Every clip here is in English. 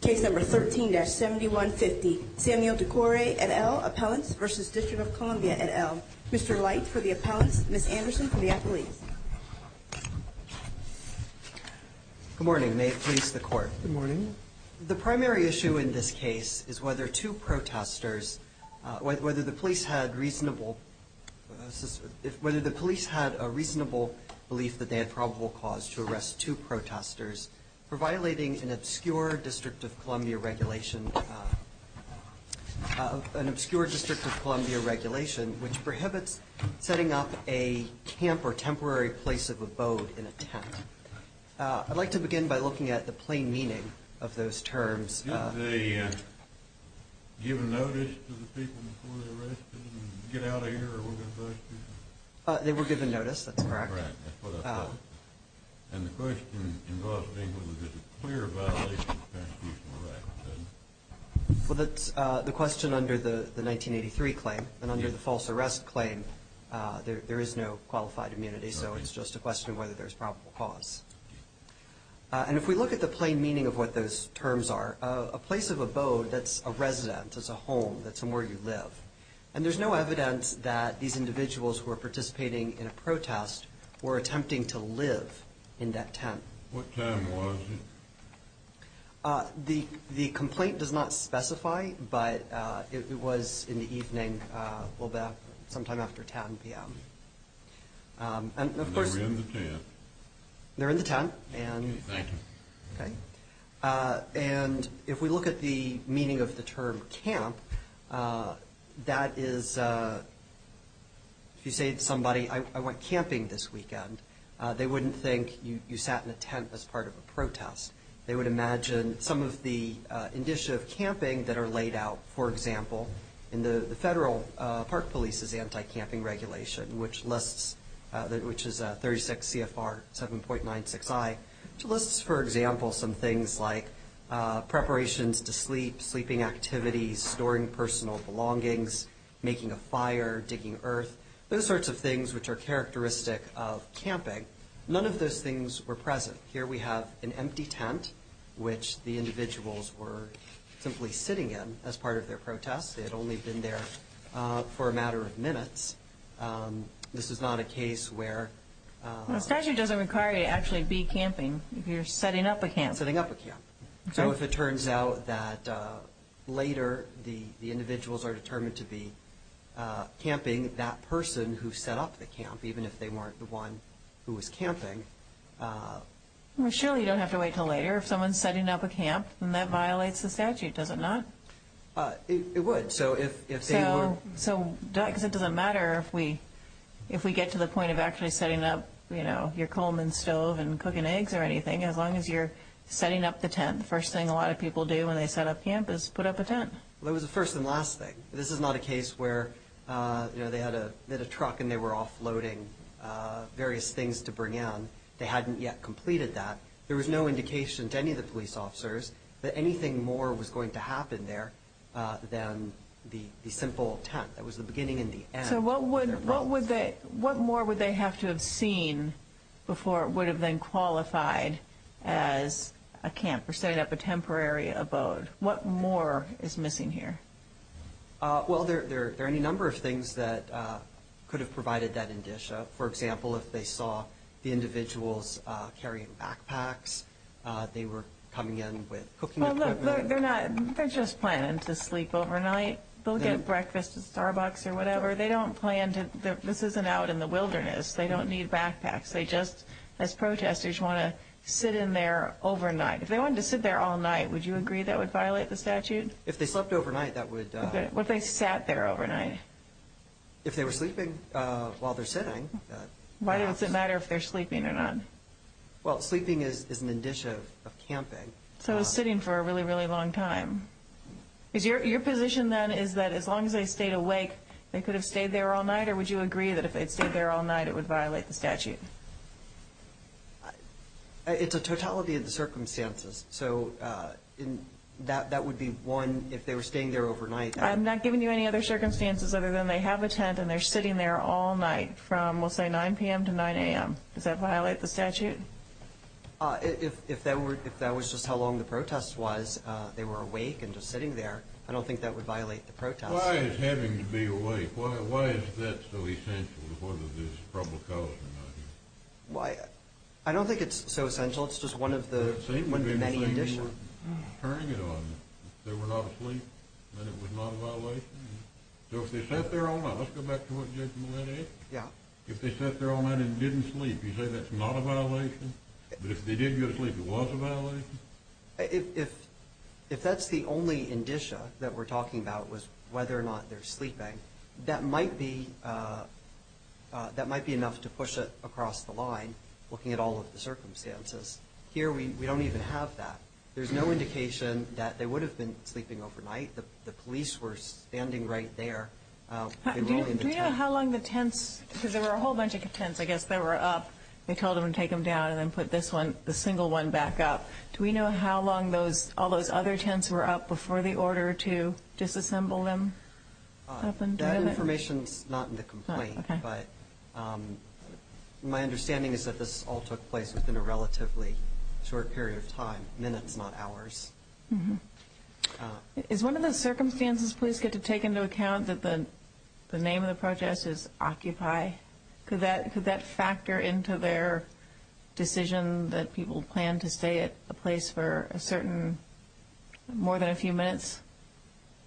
Case number 13-7150, Samuel Dukore et al. Appellants v. District of Columbia et al. Mr. Light for the appellants, Ms. Anderson for the appellees. Good morning, may it please the Court. Good morning. The primary issue in this case is whether two protesters, whether the police had reasonable, whether the police had a reasonable belief that they had probable cause to arrest two protesters for violating an obscure District of Columbia regulation, an obscure District of Columbia regulation which prohibits setting up a camp or temporary place of abode in a I'd like to begin by looking at the plain meaning of those terms. Did they give a notice to the people before they arrested and get out of here or were they busted? They were given notice, that's correct. Right, that's what I thought. And the question involved being whether there was a clear violation of the Constitutional Act, wasn't there? Well, that's the question under the 1983 claim, and under the false arrest claim, there is no qualified immunity, so it's just a question of whether there's probable cause. And if we look at the plain meaning of what those terms are, a place of abode, that's a resident, that's a home, that's somewhere you live. And there's no evidence that these individuals who are participating in a protest were attempting to live in that tent. What time was it? The complaint does not specify, but it was in the evening, sometime after 10 p.m. And they were in the tent? They were in the tent. Thank you. And if we look at the meaning of the term camp, that is if you say to somebody, I went camping this weekend, they wouldn't think you sat in a tent as part of a protest. They would imagine some of the initiative camping that are laid out, for example, in the Federal Park Police's Anti-Camping Regulation, which is 36 CFR 7.96i, which lists, for example, some things like preparations to sleep, sleeping activities, storing personal belongings, making a fire, digging earth, those sorts of things which are characteristic of camping. None of those things were present. Here we have an empty tent, which the individuals were simply sitting in as part of their protest. They had only been there for a matter of minutes. This is not a case where... The statute doesn't require you to actually be camping. You're setting up a camp. Setting up a camp. So if it turns out that later the individuals are determined to be camping, that person who set up the camp, even if they weren't the one who was camping... Surely you don't have to wait until later. If someone's setting up a camp, then that violates the statute, does it not? It would. So if they were... So... Because it doesn't matter if we get to the point of actually setting up, you know, your Coleman stove and cooking eggs or anything, as long as you're setting up the tent. The first thing a lot of people do when they set up camp is put up a tent. Well, it was a first and last thing. This is not a case where, you know, they had a truck and they were offloading various things to bring in. They hadn't yet completed that. There was no indication to any of the police officers that anything more was going to happen there than the simple tent. That was the beginning and the end. So what more would they have to have seen before it would have been qualified as a camp or setting up a temporary abode? What more is missing here? Well, there are any number of things that could have provided that indicia. For example, if they saw the individuals carrying backpacks, they were coming in with cooking equipment. Well, look, they're not... They're just planning to sleep overnight. They'll get breakfast at Starbucks or whatever. They don't plan to... This isn't out in the wilderness. They don't need backpacks. They just, as protesters, want to sit in there overnight. If they wanted to sit there all night, would you agree that would violate the statute? If they slept overnight, that would... What if they sat there overnight? If they were sleeping while they're sitting, perhaps. Why does it matter if they're sleeping or not? Well, sleeping is an indicia of camping. So they're sitting for a really, really long time. Your position then is that as long as they stayed awake, they could have stayed there all night, or would you agree that if they'd stayed there all night, it would violate the statute? It's a totality of the circumstances. So that would be one, if they were staying there overnight. I'm not giving you any other circumstances other than they have a tent and they're sitting there all night from, we'll say, 9 p.m. to 9 a.m. Does that violate the statute? If that was just how long the protest was, they were awake and just sitting there, I don't think that would violate the protest. Why is having to be awake? Why is that so essential to whether there's a probable cause or not? I don't think it's so essential. It's just one of the many indicia. If they were turning it on, they were not asleep, then it was not a violation? So if they sat there all night, let's go back to what Judge Millett asked. Yeah. If they sat there all night and didn't sleep, you say that's not a violation? But if they did go to sleep, it was a violation? If that's the only indicia that we're talking about was whether or not they're sleeping, that might be enough to push it across the line, looking at all of the circumstances. Here we don't even have that. There's no indication that they would have been sleeping overnight. The police were standing right there. Do you know how long the tents, because there were a whole bunch of tents, I guess, that were up. They told them to take them down and then put this one, the single one, back up. Do we know how long all those other tents were up before the order to disassemble them happened? That information is not in the complaint. Okay. But my understanding is that this all took place within a relatively short period of time, minutes, not hours. Is one of the circumstances police get to take into account that the name of the protest is Occupy? Could that factor into their decision that people plan to stay at a place for a certain more than a few minutes?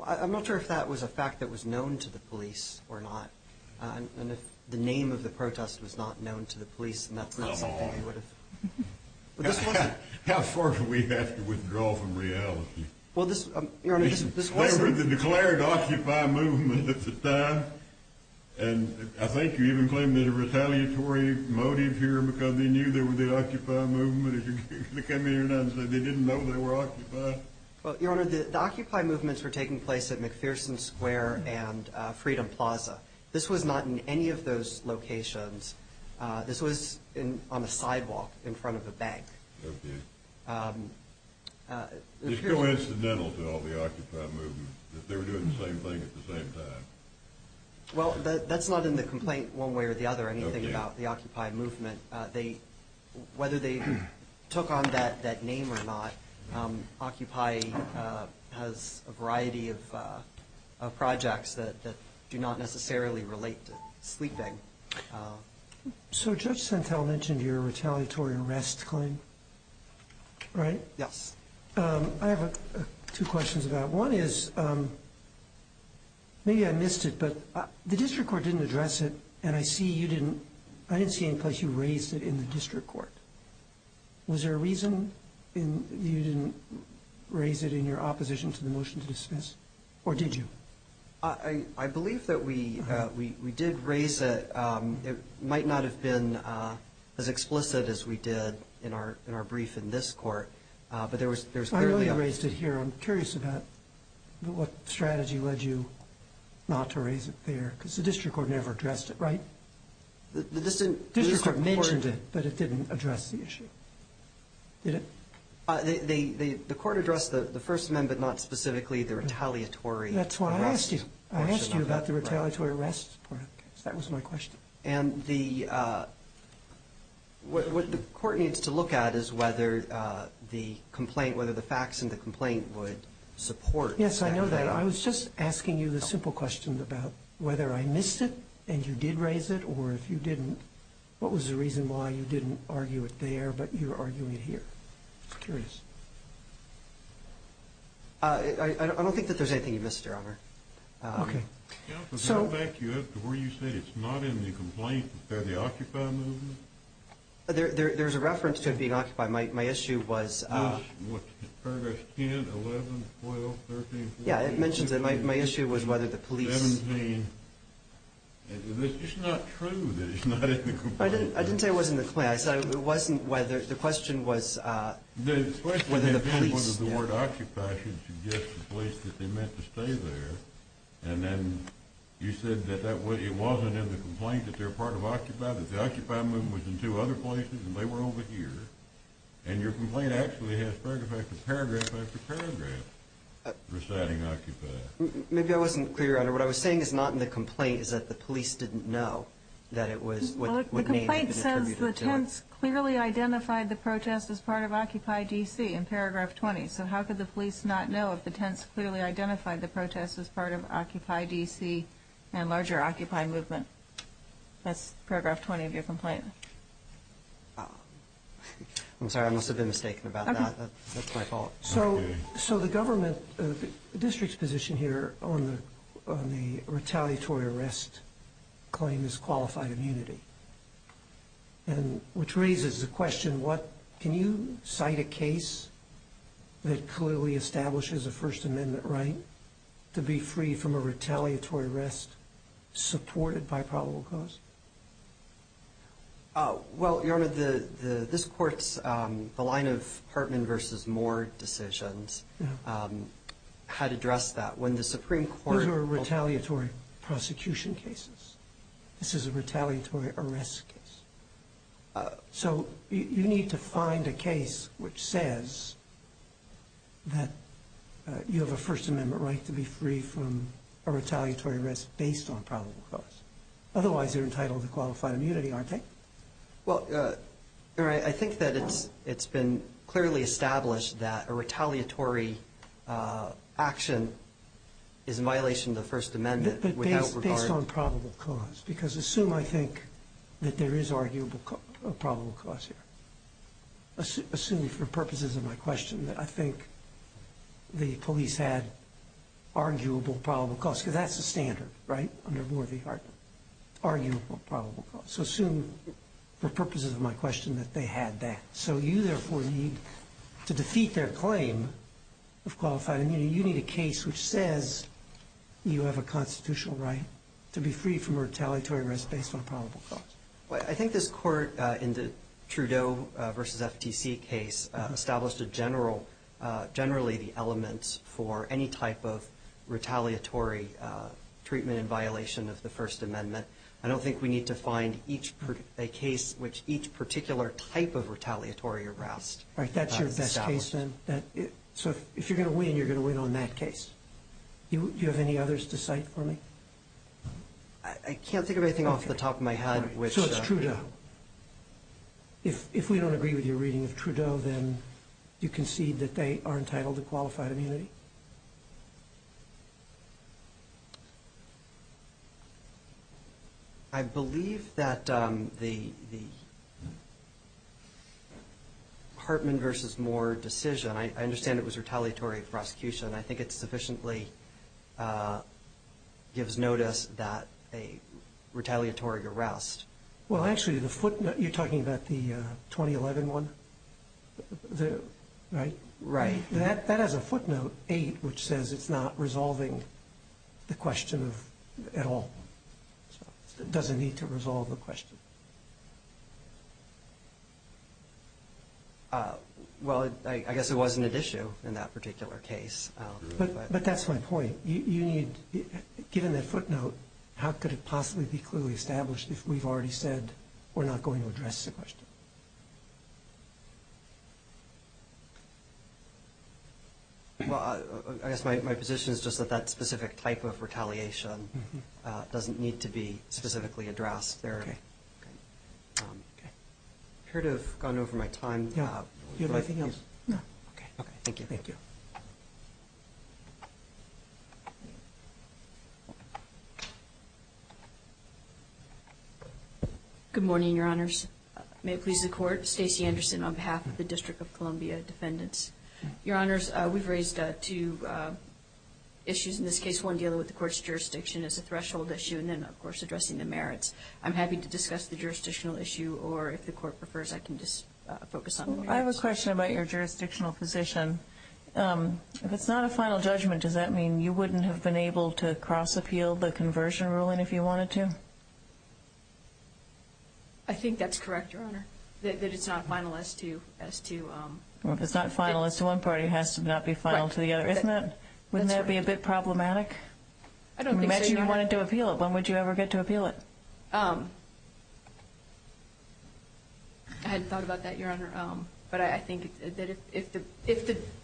I'm not sure if that was a fact that was known to the police or not. And if the name of the protest was not known to the police, then that's not something we would have. How far do we have to withdraw from reality? They were the declared Occupy movement at the time, and I think you even claim there's a retaliatory motive here because they knew they were the Occupy movement. They came in here and said they didn't know they were Occupy. Well, Your Honor, the Occupy movements were taking place at McPherson Square and Freedom Plaza. This was not in any of those locations. This was on a sidewalk in front of a bank. Okay. It's coincidental to all the Occupy movements that they were doing the same thing at the same time. Well, that's not in the complaint one way or the other anything about the Occupy movement. Whether they took on that name or not, Occupy has a variety of projects that do not necessarily relate to sleeping. So Judge Santel mentioned your retaliatory arrest claim, right? Yes. I have two questions about it. One is maybe I missed it, but the district court didn't address it, and I didn't see any place you raised it in the district court. Was there a reason you didn't raise it in your opposition to the motion to dismiss, or did you? I believe that we did raise it. It might not have been as explicit as we did in our brief in this court, but there was clearly a— I know you raised it here. I'm curious about what strategy led you not to raise it there because the district court never addressed it, right? The district court mentioned it, but it didn't address the issue. Did it? The court addressed the First Amendment, not specifically the retaliatory arrest portion of it. That's what I asked you. I asked you about the retaliatory arrest part of the case. That was my question. And what the court needs to look at is whether the complaint, whether the facts in the complaint would support that claim. And I was just asking you the simple question about whether I missed it and you did raise it, or if you didn't, what was the reason why you didn't argue it there but you're arguing it here? I'm curious. I don't think that there's anything you missed, Your Honor. Counsel, to go back to where you said it's not in the complaint but they're the Occupy movement? There's a reference to it being Occupy. My issue was— Paragraph 10, 11, 12, 13, 14. Yeah, it mentions it. My issue was whether the police— It's just not true that it's not in the complaint. I didn't say it wasn't in the complaint. I said it wasn't whether—the question was whether the police— The question had been whether the word Occupy should suggest the place that they meant to stay there, and then you said that it wasn't in the complaint that they're part of Occupy, that the Occupy movement was in two other places and they were over here, and your complaint actually has paragraph after paragraph after paragraph reciting Occupy. Maybe I wasn't clear, Your Honor. What I was saying is not in the complaint is that the police didn't know that it was— The complaint says the tents clearly identified the protest as part of Occupy D.C. in paragraph 20, so how could the police not know if the tents clearly identified the protest as part of Occupy D.C. and larger Occupy movement? That's paragraph 20 of your complaint. I'm sorry. I must have been mistaken about that. That's my fault. So the government—the district's position here on the retaliatory arrest claim is qualified immunity, which raises the question what— can you cite a case that clearly establishes a First Amendment right to be free from a retaliatory arrest supported by probable cause? Well, Your Honor, this Court's—the line of Hartman v. Moore decisions had addressed that. When the Supreme Court— Those are retaliatory prosecution cases. This is a retaliatory arrest case. So you need to find a case which says that you have a First Amendment right to be free from a retaliatory arrest based on probable cause. Otherwise, they're entitled to qualified immunity, aren't they? Well, Your Honor, I think that it's been clearly established that a retaliatory action is in violation of the First Amendment without regard— Based on probable cause, because assume I think that there is arguable probable cause here. Assume for purposes of my question that I think the police had arguable probable cause, because that's the standard, right, under Moore v. Hartman, arguable probable cause. So assume for purposes of my question that they had that. So you, therefore, need to defeat their claim of qualified immunity. You need a case which says you have a constitutional right to be free from retaliatory arrest based on probable cause. Well, I think this Court in the Trudeau v. FTC case established a general—generally the elements for any type of retaliatory treatment in violation of the First Amendment. I don't think we need to find a case which each particular type of retaliatory arrest is established. Right. That's your best case, then? So if you're going to win, you're going to win on that case. Do you have any others to cite for me? I can't think of anything off the top of my head which— So it's Trudeau. If we don't agree with your reading of Trudeau, then do you concede that they are entitled to qualified immunity? I believe that the Hartman v. Moore decision, I understand it was retaliatory prosecution. I think it sufficiently gives notice that a retaliatory arrest— Well, actually, the footnote—you're talking about the 2011 one? Right? Right. That has a footnote 8, which says it's not resolving the question of—at all. It doesn't need to resolve the question. Well, I guess it wasn't at issue in that particular case. But that's my point. You need—given that footnote, how could it possibly be clearly established if we've already said we're not going to address the question? Well, I guess my position is just that that specific type of retaliation doesn't need to be specifically addressed. Okay. I appear to have gone over my time. Do you have anything else? No. Okay. Thank you. Good morning, Your Honors. May it please the Court, Stacey Anderson on behalf of the District of Columbia Defendants. Your Honors, we've raised two issues in this case. First one dealing with the Court's jurisdiction as a threshold issue, and then, of course, addressing the merits. I'm happy to discuss the jurisdictional issue, or if the Court prefers, I can just focus on— I have a question about your jurisdictional position. If it's not a final judgment, does that mean you wouldn't have been able to cross-appeal the conversion ruling if you wanted to? I think that's correct, Your Honor, that it's not final as to— It's not final as to one party. It has to not be final to the other. Wouldn't that be a bit problematic? I don't think so, Your Honor. Imagine you wanted to appeal it. When would you ever get to appeal it? I hadn't thought about that, Your Honor. But I think that if the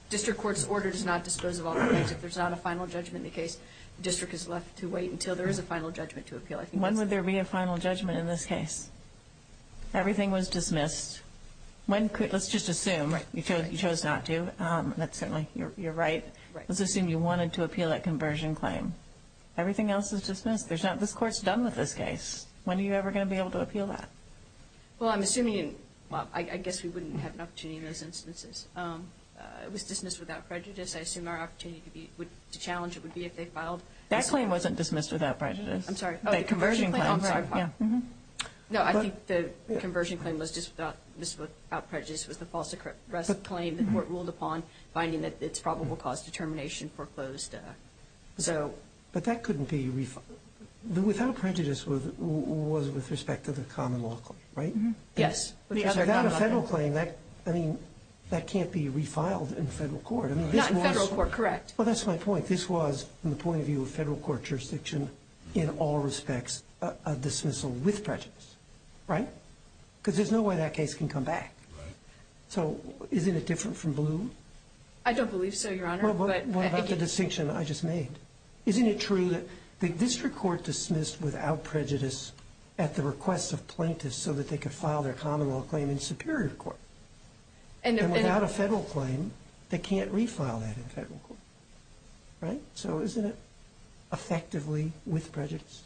District Court's order does not disclose all the facts, if there's not a final judgment in the case, the District is left to wait until there is a final judgment to appeal. When would there be a final judgment in this case? Everything was dismissed. Let's just assume you chose not to. That's certainly—you're right. Let's assume you wanted to appeal that conversion claim. Everything else is dismissed. There's not—this Court's done with this case. When are you ever going to be able to appeal that? Well, I'm assuming—well, I guess we wouldn't have an opportunity in those instances. It was dismissed without prejudice. I assume our opportunity to challenge it would be if they filed— That claim wasn't dismissed without prejudice. I'm sorry. The conversion claim. I'm sorry. It was dismissed without prejudice. It was the false arrest claim that the Court ruled upon, finding that it's probable cause determination foreclosed. So— But that couldn't be—without prejudice was with respect to the common law claim, right? Yes. Without a federal claim, that—I mean, that can't be refiled in federal court. Not in federal court, correct. Well, that's my point. This was, from the point of view of federal court jurisdiction, in all respects, a dismissal with prejudice, right? Because there's no way that case can come back. So isn't it different from Ballou? I don't believe so, Your Honor. Well, what about the distinction I just made? Isn't it true that the district court dismissed without prejudice at the request of plaintiffs so that they could file their common law claim in superior court? And without a federal claim, they can't refile that in federal court, right? So isn't it effectively with prejudice?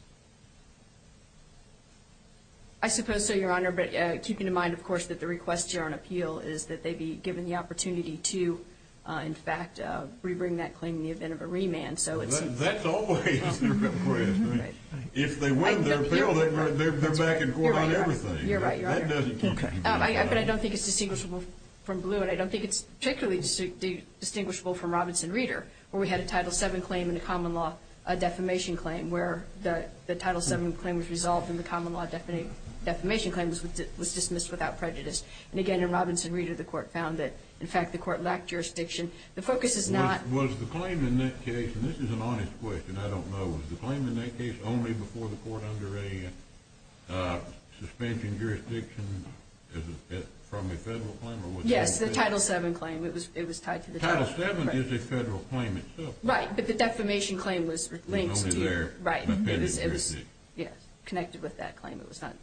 I suppose so, Your Honor. But keeping in mind, of course, that the request here on appeal is that they be given the opportunity to, in fact, rebring that claim in the event of a remand. So it's— That's always the request, right? If they win the appeal, they're back in court on everything. You're right. You're right, Your Honor. Okay. But I don't think it's distinguishable from Ballou, and I don't think it's particularly distinguishable from Robinson Reeder, where we had a Title VII claim and a common law defamation claim where the Title VII claim was resolved and the common law defamation claim was dismissed without prejudice. And, again, in Robinson Reeder, the court found that, in fact, the court lacked jurisdiction. The focus is not— Was the claim in that case—and this is an honest question, I don't know— was the claim in that case only before the court under a suspension jurisdiction from a federal claim? Yes, the Title VII claim. It was tied to the— Title VII is a federal claim itself. Right, but the defamation claim was linked to— Only there. Right. It was connected with that claim. It was not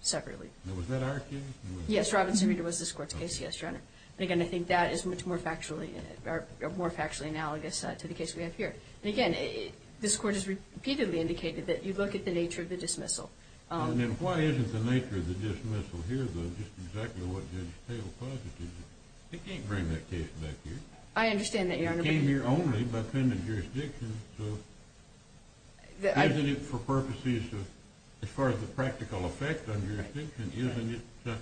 separately. Now, was that our case? Yes, Robinson Reeder was this court's case, yes, Your Honor. And, again, I think that is much more factually—or more factually analogous to the case we have here. And, again, this court has repeatedly indicated that you look at the nature of the dismissal. Then why isn't the nature of the dismissal here, though, just exactly what Judge Taylor posited? It can't bring that case back here. I understand that, Your Honor. It came here only by pending jurisdiction. Isn't it for purposes of—as far as the practical effect on jurisdiction, isn't it—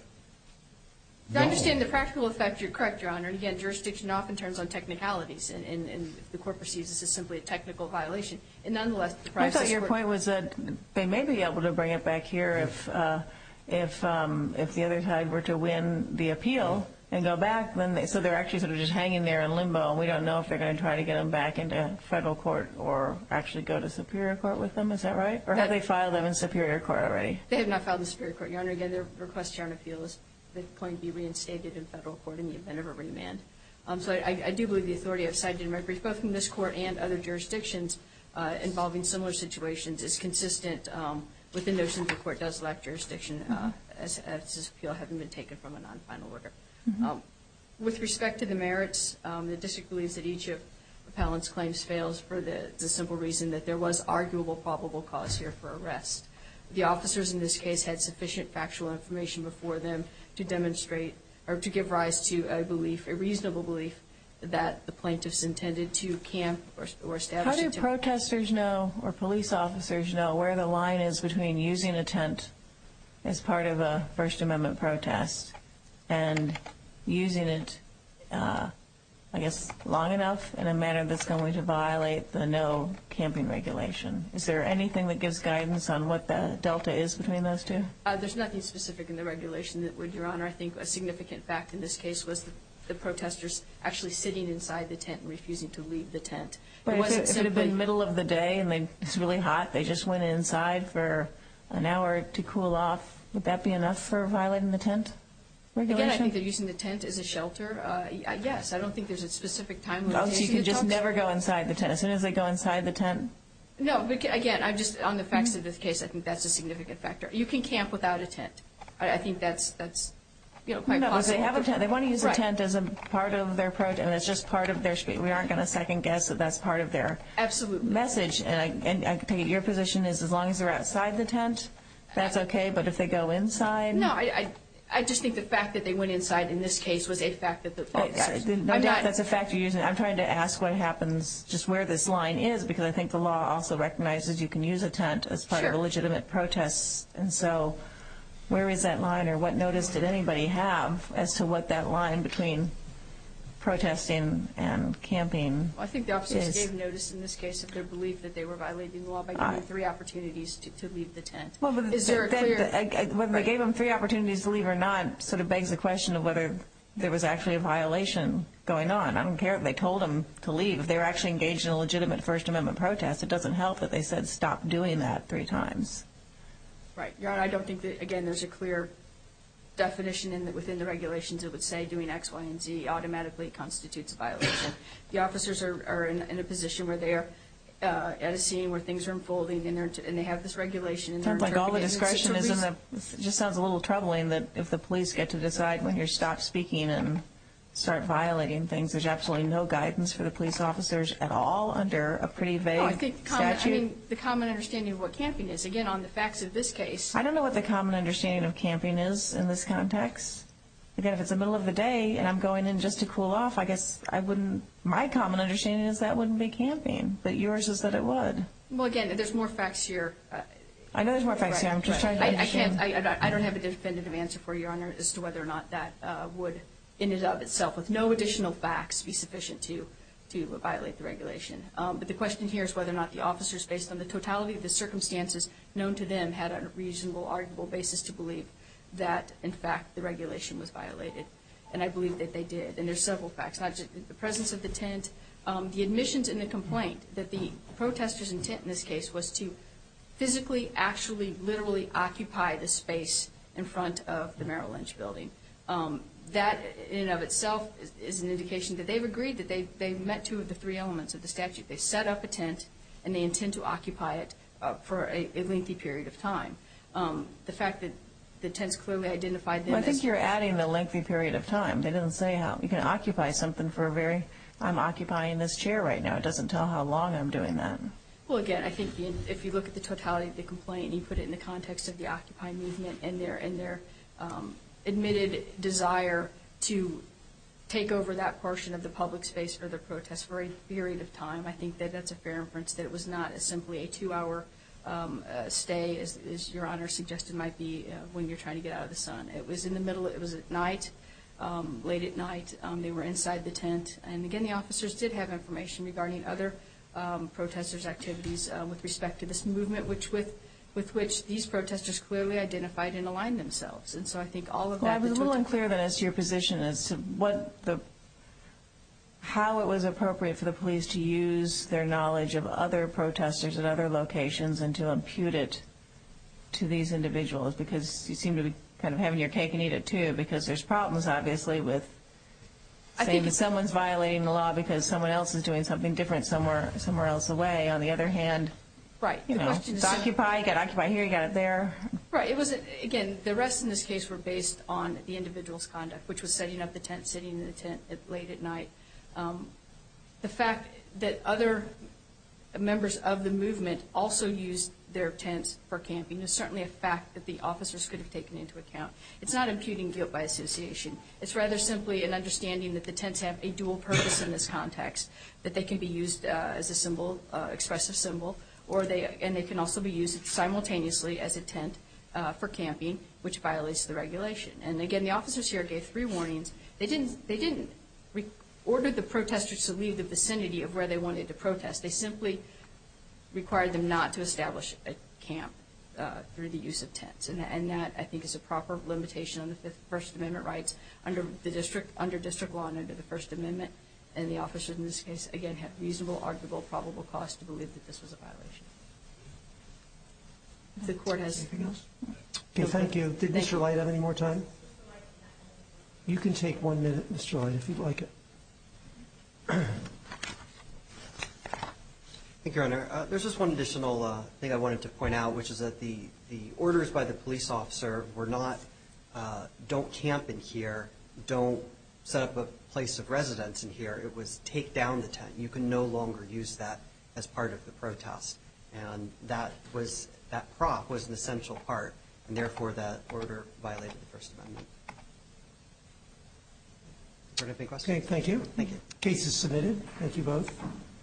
I understand the practical effect. You're correct, Your Honor. And, again, jurisdiction often turns on technicalities. And the court perceives this as simply a technical violation. And, nonetheless— I thought your point was that they may be able to bring it back here if the other side were to win the appeal and go back. So they're actually sort of just hanging there in limbo. And we don't know if they're going to try to get them back into federal court or actually go to superior court with them. Is that right? Or have they filed them in superior court already? They have not filed them in superior court, Your Honor. Again, their request here on appeal is that they're going to be reinstated in federal court in the event of a remand. So I do believe the authority of side-judgment briefs, both from this court and other jurisdictions involving similar situations, is consistent with the notion that the court does lack jurisdiction as this appeal hasn't been taken from a non-final order. With respect to the merits, the district believes that each of Appellant's claims fails for the simple reason that there was arguable probable cause here for arrest. The officers in this case had sufficient factual information before them to demonstrate or to give rise to a belief, a reasonable belief, that the plaintiffs intended to camp or establish— How do protesters know or police officers know where the line is between using a tent as part of a First Amendment protest and using it, I guess, long enough in a manner that's going to violate the no camping regulation? Is there anything that gives guidance on what the delta is between those two? There's nothing specific in the regulation that would, Your Honor. I think a significant fact in this case was the protesters actually sitting inside the tent and refusing to leave the tent. But if it had been middle of the day and it's really hot, they just went inside for an hour to cool off, would that be enough for violating the tent regulation? Again, I think they're using the tent as a shelter. Yes, I don't think there's a specific time when they're using the tent. Oh, so you can just never go inside the tent? As soon as they go inside the tent? No, again, I'm just—on the facts of this case, I think that's a significant factor. You can camp without a tent. I think that's, you know, quite possible. No, but they have a tent. They want to use a tent as a part of their protest. It's just part of their—we aren't going to second-guess that that's part of their message. Absolutely. And I take it your position is as long as they're outside the tent, that's okay, but if they go inside— No, I just think the fact that they went inside in this case was a fact that— No, that's a fact you're using. I'm trying to ask what happens, just where this line is, because I think the law also recognizes you can use a tent as part of a legitimate protest. And so where is that line or what notice did anybody have as to what that line between protesting and camping is? I think the officers gave notice in this case of their belief that they were violating the law by giving them three opportunities to leave the tent. Is there a clear— Whether they gave them three opportunities to leave or not sort of begs the question of whether there was actually a violation going on. I don't care if they told them to leave. If they were actually engaged in a legitimate First Amendment protest, it doesn't help that they said stop doing that three times. Right. Your Honor, I don't think that, again, there's a clear definition within the regulations that would say doing X, Y, and Z automatically constitutes a violation. The officers are in a position where they are at a scene where things are unfolding and they have this regulation and they're interpreting it. It sounds like all the discretion is in the—it just sounds a little troubling that if the police get to decide when you're stopped speaking and start violating things, there's absolutely no guidance for the police officers at all under a pretty vague statute. I think the common understanding of what camping is, again, on the facts of this case— I don't know what the common understanding of camping is in this context. Again, if it's the middle of the day and I'm going in just to cool off, I guess I wouldn't— my common understanding is that wouldn't be camping, but yours is that it would. Well, again, there's more facts here. I know there's more facts here. I'm just trying to understand. I can't—I don't have a definitive answer for you, Your Honor, as to whether or not that would in and of itself, with no additional facts, be sufficient to violate the regulation. But the question here is whether or not the officers, based on the totality of the circumstances known to them, had a reasonable, arguable basis to believe that, in fact, the regulation was violated. And I believe that they did. And there's several facts, not just the presence of the tent, the admissions and the complaint that the protesters' intent in this case was to physically, actually, literally occupy the space in front of the Merrill Lynch building. That, in and of itself, is an indication that they've agreed, that they've met two of the three elements of the statute. They set up a tent, and they intend to occupy it for a lengthy period of time. The fact that the tents clearly identified them as— Well, I think you're adding the lengthy period of time. They didn't say how you can occupy something for a very—I'm occupying this chair right now. It doesn't tell how long I'm doing that. Well, again, I think if you look at the totality of the complaint and you put it in the context of the Occupy movement and their admitted desire to take over that portion of the public space for the protest for a period of time, I think that that's a fair inference, that it was not simply a two-hour stay, as Your Honor suggested might be, when you're trying to get out of the sun. It was in the middle—it was at night, late at night. They were inside the tent. And, again, the officers did have information regarding other protesters' activities with respect to this movement, with which these protesters clearly identified and aligned themselves. And so I think all of that— I was a little unclear, then, as to your position as to what the— how it was appropriate for the police to use their knowledge of other protesters at other locations and to impute it to these individuals, because you seem to be kind of having your cake and eat it, too, because there's problems, obviously, with saying that someone's violating the law because someone else is doing something different somewhere else away. On the other hand, you know, it's Occupy. You've got Occupy here. You've got it there. Right. It was—again, the arrests in this case were based on the individual's conduct, which was setting up the tent, sitting in the tent late at night. The fact that other members of the movement also used their tents for camping is certainly a fact that the officers could have taken into account. It's not imputing guilt by association. It's rather simply an understanding that the tents have a dual purpose in this context, that they can be used as a symbol, expressive symbol, and they can also be used simultaneously as a tent for camping, which violates the regulation. And, again, the officers here gave three warnings. They didn't order the protesters to leave the vicinity of where they wanted to protest. They simply required them not to establish a camp through the use of tents. And that, I think, is a proper limitation on the First Amendment rights under district law and under the First Amendment. And the officers in this case, again, had reasonable, arguable, probable cause to believe that this was a violation. If the Court has anything else. Okay, thank you. Did Mr. Light have any more time? You can take one minute, Mr. Light, if you'd like it. Thank you, Your Honor. There's just one additional thing I wanted to point out, which is that the orders by the police officer were not don't camp in here, don't set up a place of residence in here. It was take down the tent. You can no longer use that as part of the protest. And that prop was an essential part. And, therefore, that order violated the First Amendment. Your Honor, any questions? Okay, thank you. Thank you. The case is submitted. Thank you both.